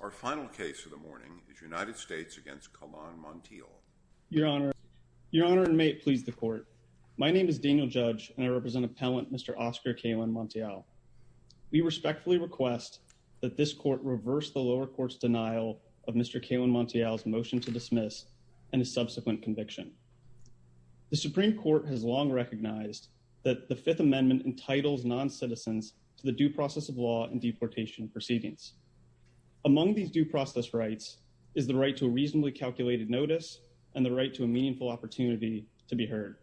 Our final case of the morning is United States v. Calan-Montiel Your Honor, and may it please the Court, My name is Daniel Judge, and I represent Appellant Mr. Oscar Calan-Montiel. We respectfully request that this Court reverse the lower court's denial of Mr. Calan-Montiel's motion to dismiss and his subsequent conviction. The Supreme Court has long recognized that the Fifth Amendment entitles noncitizens to the due process of law and deportation proceedings. Among these due process rights is the right to a reasonably calculated notice and the right to a meaningful opportunity to be heard.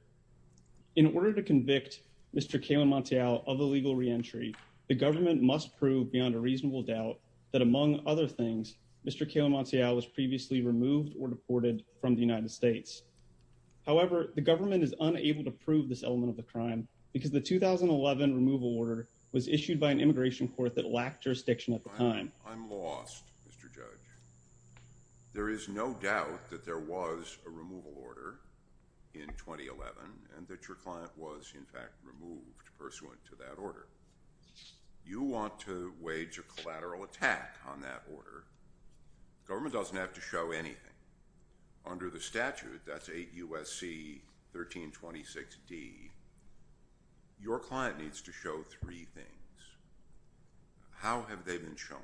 In order to convict Mr. Calan-Montiel of illegal reentry, the government must prove beyond a reasonable doubt that, among other things, Mr. Calan-Montiel was previously removed or deported from the United States. However, the government is unable to prove this element of the crime because the 2011 removal order was issued by an immigration court that lacked jurisdiction at the time. I'm lost, Mr. Judge. There is no doubt that there was a removal order in 2011 and that your client was, in fact, removed pursuant to that order. You want to wage a collateral attack on that order. The government doesn't have to show anything. Under the statute, that's 8 U.S.C. 1326d, your client needs to show three things. How have they been shown?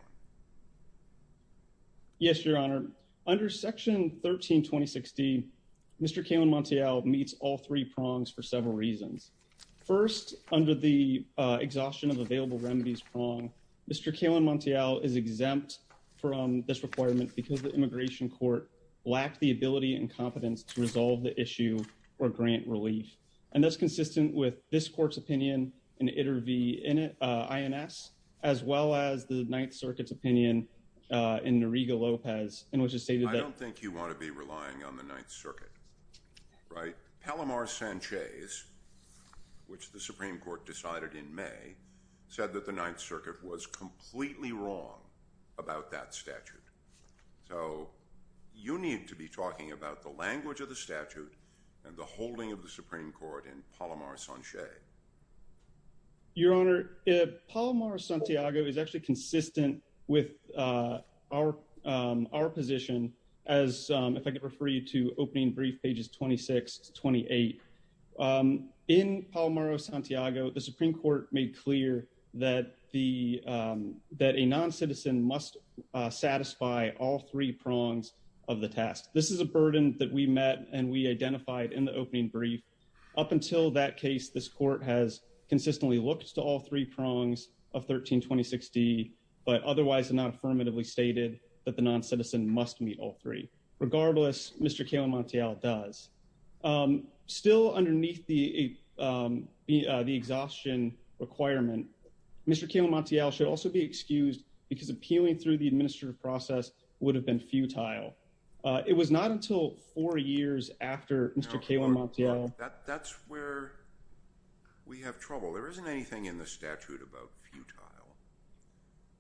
Yes, Your Honor. Under Section 1326d, Mr. Calan-Montiel meets all three prongs for several reasons. First, under the exhaustion of available remedies prong, Mr. Calan-Montiel is exempt from this requirement because the immigration court lacked the ability and confidence to resolve the issue or grant relief. And that's consistent with this court's opinion in Iter V. INS, as well as the Ninth Circuit's opinion in Noriega-Lopez, in which it stated that— I don't think you want to be relying on the Ninth Circuit, right? Palomar Sanchez, which the Supreme Court decided in May, said that the Ninth Circuit was completely wrong about that statute. So you need to be talking about the language of the statute and the holding of the Supreme Court in Palomar Sanchez. Your Honor, Palomar Santiago is actually consistent with our position as—if I could refer you to opening brief pages 26 to 28. In Palomar Santiago, the Supreme Court made clear that a noncitizen must satisfy all three prongs of the task. This is a burden that we met and we identified in the opening brief. Up until that case, this court has consistently looked to all three prongs of 1326d, but otherwise not affirmatively stated that the noncitizen must meet all three. Regardless, Mr. Calan-Montiel does. Still underneath the exhaustion requirement, Mr. Calan-Montiel should also be excused because appealing through the administrative process would have been futile. It was not until four years after Mr. Calan-Montiel— That's where we have trouble. There isn't anything in the statute about futile.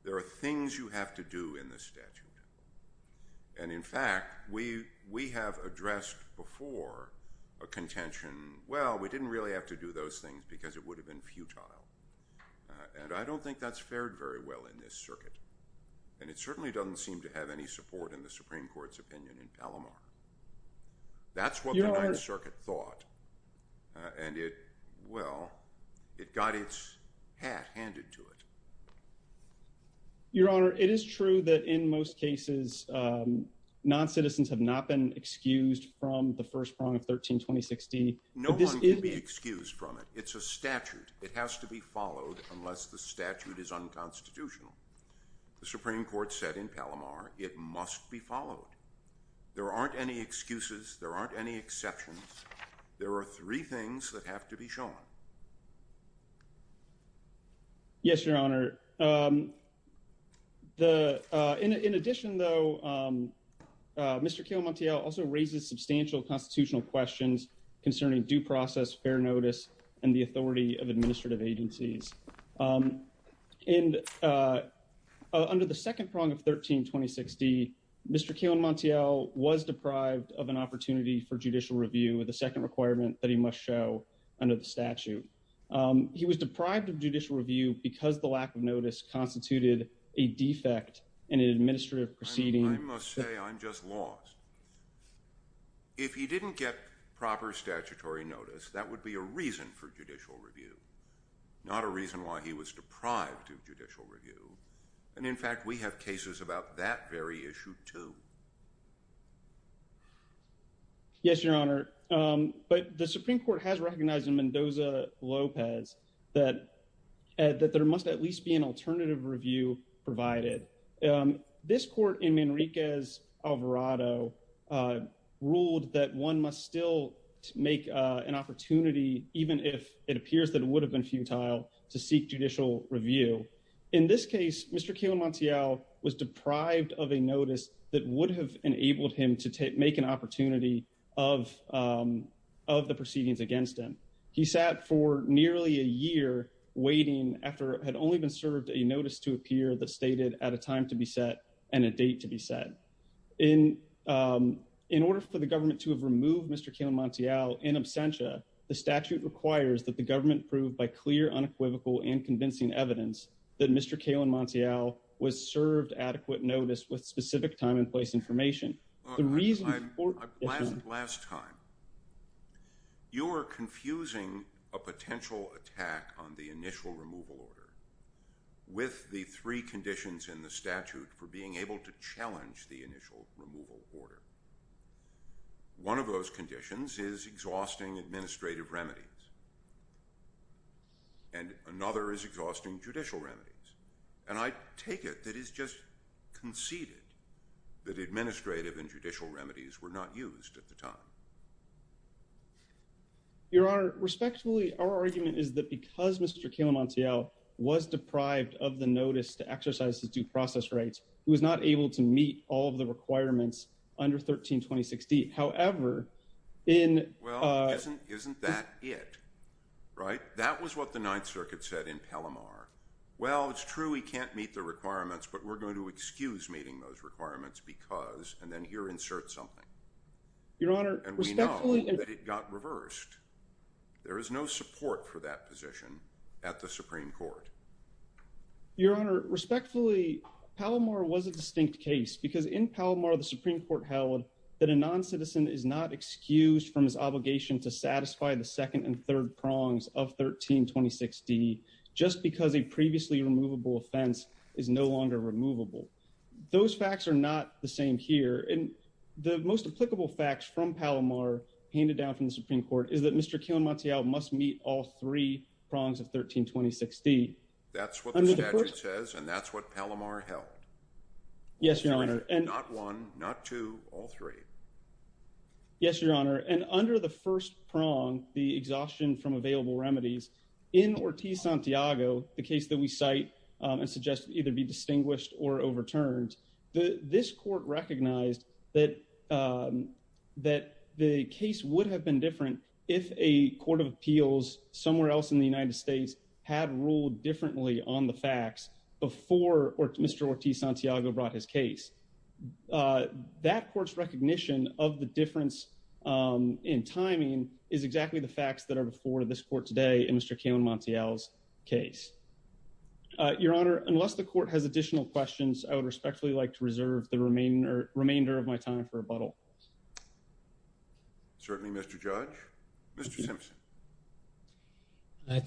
There are things you have to do in the statute. And in fact, we have addressed before a contention, well, we didn't really have to do those things because it would have been futile. And I don't think that's fared very well in this circuit. And it certainly doesn't seem to have any support in the Supreme Court's opinion in Palomar. That's what the Ninth Circuit thought. And it—well, it got its hat handed to it. Your Honor, it is true that in most cases noncitizens have not been excused from the first prong of 1326d. No one can be excused from it. It's a statute. It has to be followed unless the statute is unconstitutional. The Supreme Court said in Palomar it must be followed. There aren't any excuses. There aren't any exceptions. There are three things that have to be shown. Yes, Your Honor. In addition, though, Mr. Keogh-Montiel also raises substantial constitutional questions concerning due process, fair notice, and the authority of administrative agencies. And under the second prong of 1326d, Mr. Keogh-Montiel was deprived of an opportunity for judicial review, the second requirement that he must show under the statute. He was deprived of judicial review because the lack of notice constituted a defect in an administrative proceeding. I must say I'm just lost. If he didn't get proper statutory notice, that would be a reason for judicial review. Not a reason why he was deprived of judicial review. And, in fact, we have cases about that very issue, too. Yes, Your Honor. But the Supreme Court has recognized in Mendoza-Lopez that there must at least be an alternative review provided. This court in Manriquez-Alvarado ruled that one must still make an opportunity, even if it appears that it would have been futile, to seek judicial review. In this case, Mr. Keogh-Montiel was deprived of a notice that would have enabled him to make an opportunity of the proceedings against him. He sat for nearly a year waiting after it had only been served a notice to appear that stated at a time to be set and a date to be set. In order for the government to have removed Mr. Keogh-Montiel in absentia, the statute requires that the government prove by clear, unequivocal, and convincing evidence that Mr. Keogh-Montiel was served adequate notice with specific time and place information. Last time, you were confusing a potential attack on the initial removal order with the three conditions in the statute for being able to challenge the initial removal order. One of those conditions is exhausting administrative remedies, and another is exhausting judicial remedies. And I take it that it's just conceded that administrative and judicial remedies were not used at the time. Your Honor, respectfully, our argument is that because Mr. Keogh-Montiel was deprived of the notice to exercise his due process rights, he was not able to meet all of the requirements under 13-2016. Well, isn't that it, right? That was what the Ninth Circuit said in Palomar. Well, it's true he can't meet the requirements, but we're going to excuse meeting those requirements because, and then here insert something. And we know that it got reversed. There is no support for that position at the Supreme Court. Your Honor, respectfully, Palomar was a distinct case because in Palomar, the Supreme Court held that a non-citizen is not excused from his obligation to satisfy the second and third prongs of 13-2016 just because a previously removable offense is no longer removable. Those facts are not the same here, and the most applicable facts from Palomar handed down from the Supreme Court is that Mr. Keogh-Montiel must meet all three prongs of 13-2016. That's what the statute says, and that's what Palomar held. Yes, Your Honor. Not one, not two, all three. Yes, Your Honor. And under the first prong, the exhaustion from available remedies, in Ortiz-Santiago, the case that we cite and suggest either be distinguished or overturned, this court recognized that the case would have been different if a court of appeals somewhere else in the United States had ruled differently on the facts before Mr. Ortiz-Santiago brought his case. That court's recognition of the difference in timing is exactly the facts that are before this court today in Mr. Keogh-Montiel's case. Your Honor, unless the court has additional questions, I would respectfully like to reserve the remainder of my time for rebuttal. Certainly, Mr. Judge. Mr. Simpson.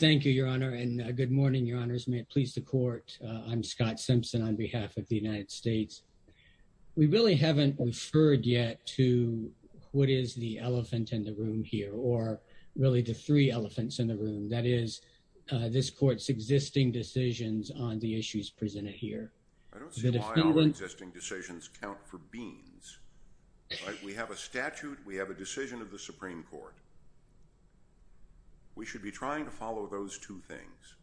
Thank you, Your Honor, and good morning, Your Honors. May it please the court. I'm Scott Simpson on behalf of the United States. We really haven't referred yet to what is the elephant in the room here or really the three elephants in the room. That is, this court's existing decisions on the issues presented here. I don't see why our existing decisions count for beans. We have a statute. We have a decision of the Supreme Court. We should be trying to follow those two things.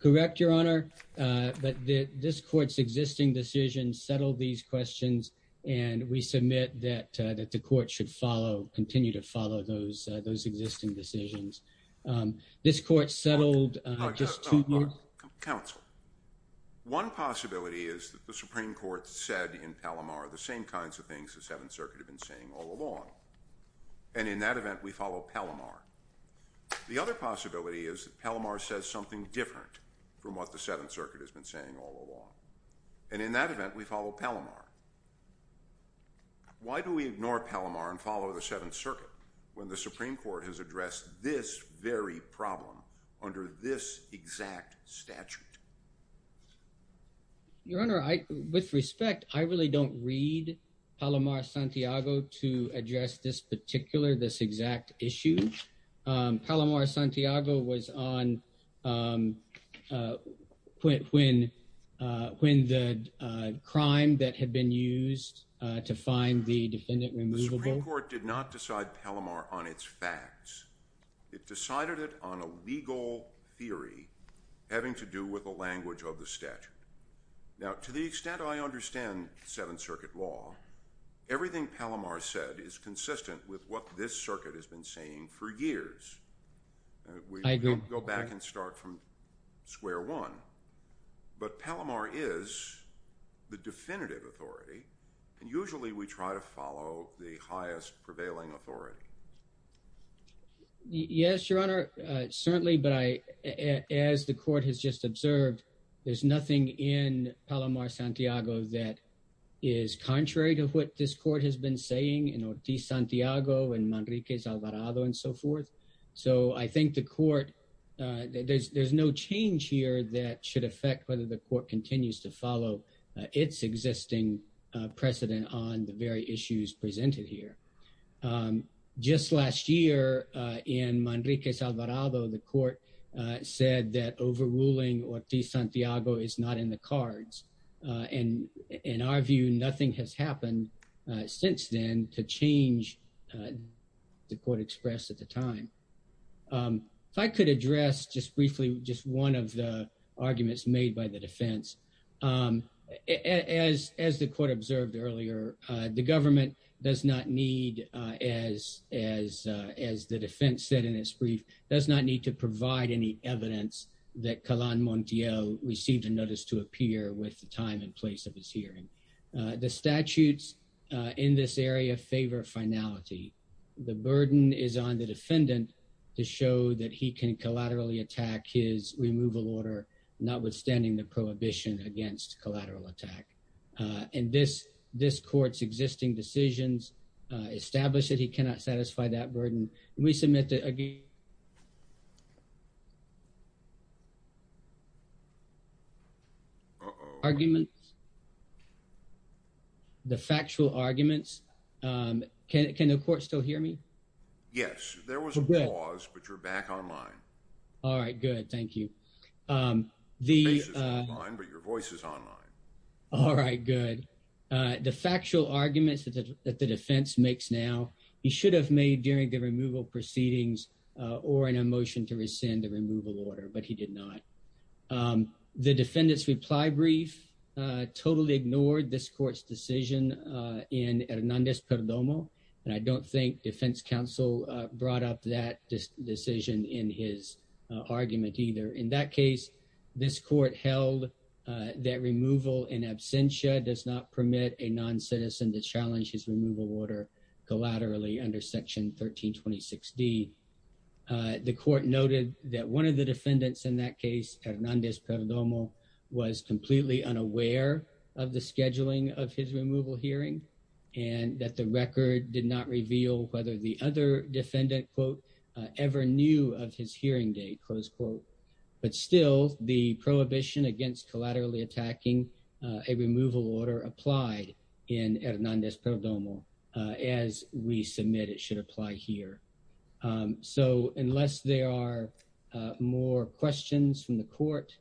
Correct, Your Honor. But this court's existing decisions settle these questions, and we submit that the court should follow, continue to follow those existing decisions. This court settled just two... Counsel, one possibility is that the Supreme Court said in Palomar the same kinds of things the Seventh Circuit had been saying all along. And in that event, we follow Palomar. The other possibility is that Palomar says something different from what the Seventh Circuit has been saying all along. And in that event, we follow Palomar. Why do we ignore Palomar and follow the Seventh Circuit when the Supreme Court has addressed this very problem under this exact statute? Your Honor, with respect, I really don't read Palomar-Santiago to address this particular, this exact issue. Palomar-Santiago was on when the crime that had been used to find the defendant removable... The Supreme Court did not decide Palomar on its facts. It decided it on a legal theory having to do with the language of the statute. Now, to the extent I understand Seventh Circuit law, everything Palomar said is consistent with what this circuit has been saying for years. I agree. We can go back and start from square one. But Palomar is the definitive authority, and usually we try to follow the highest prevailing authority. Yes, Your Honor, certainly. But as the court has just observed, there's nothing in Palomar-Santiago that is contrary to what this court has been saying in Ortiz-Santiago and Manriquez-Alvarado and so forth. So I think the court, there's no change here that should affect whether the court continues to follow its existing precedent on the very issues presented here. Just last year in Manriquez-Alvarado, the court said that overruling Ortiz-Santiago is not in the cards. And in our view, nothing has happened since then to change the court expressed at the time. If I could address just briefly just one of the arguments made by the defense. As the court observed earlier, the government does not need, as the defense said in its brief, does not need to provide any evidence that Calan Montiel received a notice to appear with the time and place of his hearing. The statutes in this area favor finality. The burden is on the defendant to show that he can collaterally attack his removal order, notwithstanding the prohibition against collateral attack. And this court's existing decisions establish that he cannot satisfy that burden. Can we submit the arguments? The factual arguments. Can the court still hear me? Yes. There was a pause, but you're back online. All right, good. Thank you. Your face is online, but your voice is online. All right, good. The factual arguments that the defense makes now, he should have made during the removal proceedings or in a motion to rescind the removal order, but he did not. The defendant's reply brief totally ignored this court's decision in Hernandez Perdomo. And I don't think defense counsel brought up that decision in his argument either. In that case, this court held that removal in absentia does not permit a noncitizen to challenge his removal order collaterally under Section 1326D. The court noted that one of the defendants in that case, Hernandez Perdomo, was completely unaware of the scheduling of his removal hearing, and that the record did not reveal whether the other defendant, quote, ever knew of his hearing date, close quote. But still, the prohibition against collaterally attacking a removal order applied in Hernandez Perdomo, as we submit it should apply here. So unless there are more questions from the court,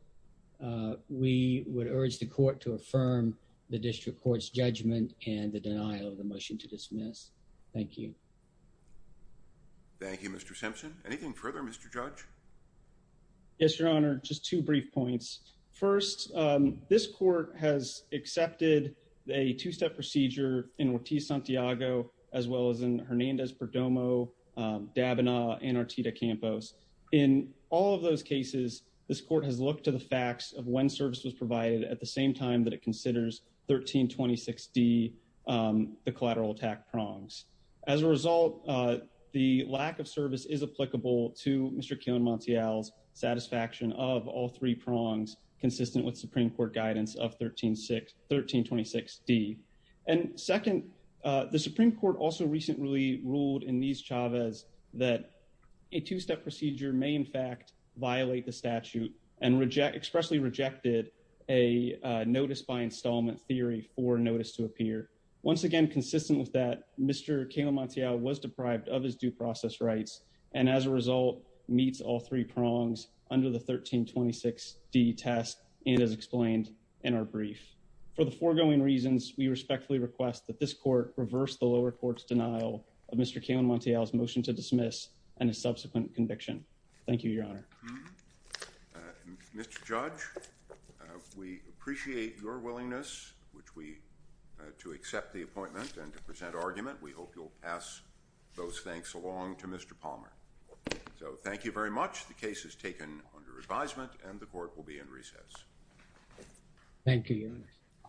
we would urge the court to affirm the district court's judgment and the denial of the motion to dismiss. Thank you. Thank you, Mr. Simpson. Anything further, Mr. Judge? Yes, Your Honor. Just two brief points. First, this court has accepted a two-step procedure in Ortiz-Santiago, as well as in Hernandez Perdomo, Dabana, and Artida Campos. In all of those cases, this court has looked to the facts of when service was provided at the same time that it considers 1326D, the collateral attack prongs. As a result, the lack of service is applicable to Mr. Keon-Montiel's satisfaction of all three prongs, consistent with Supreme Court guidance of 1326D. And second, the Supreme Court also recently ruled in these chaves that a two-step procedure may, in fact, violate the statute, and expressly rejected a notice-by-installment theory for a notice to appear. Once again, consistent with that, Mr. Keon-Montiel was deprived of his due process rights, and as a result, meets all three prongs under the 1326D test, as explained in our brief. For the foregoing reasons, we respectfully request that this court reverse the lower court's denial of Mr. Keon-Montiel's motion to dismiss and his subsequent conviction. Thank you, Your Honor. Mr. Judge, we appreciate your willingness to accept the appointment and to present argument. We hope you'll pass those thanks along to Mr. Palmer. So thank you very much. The case is taken under advisement, and the court will be in recess. Thank you, Your Honor.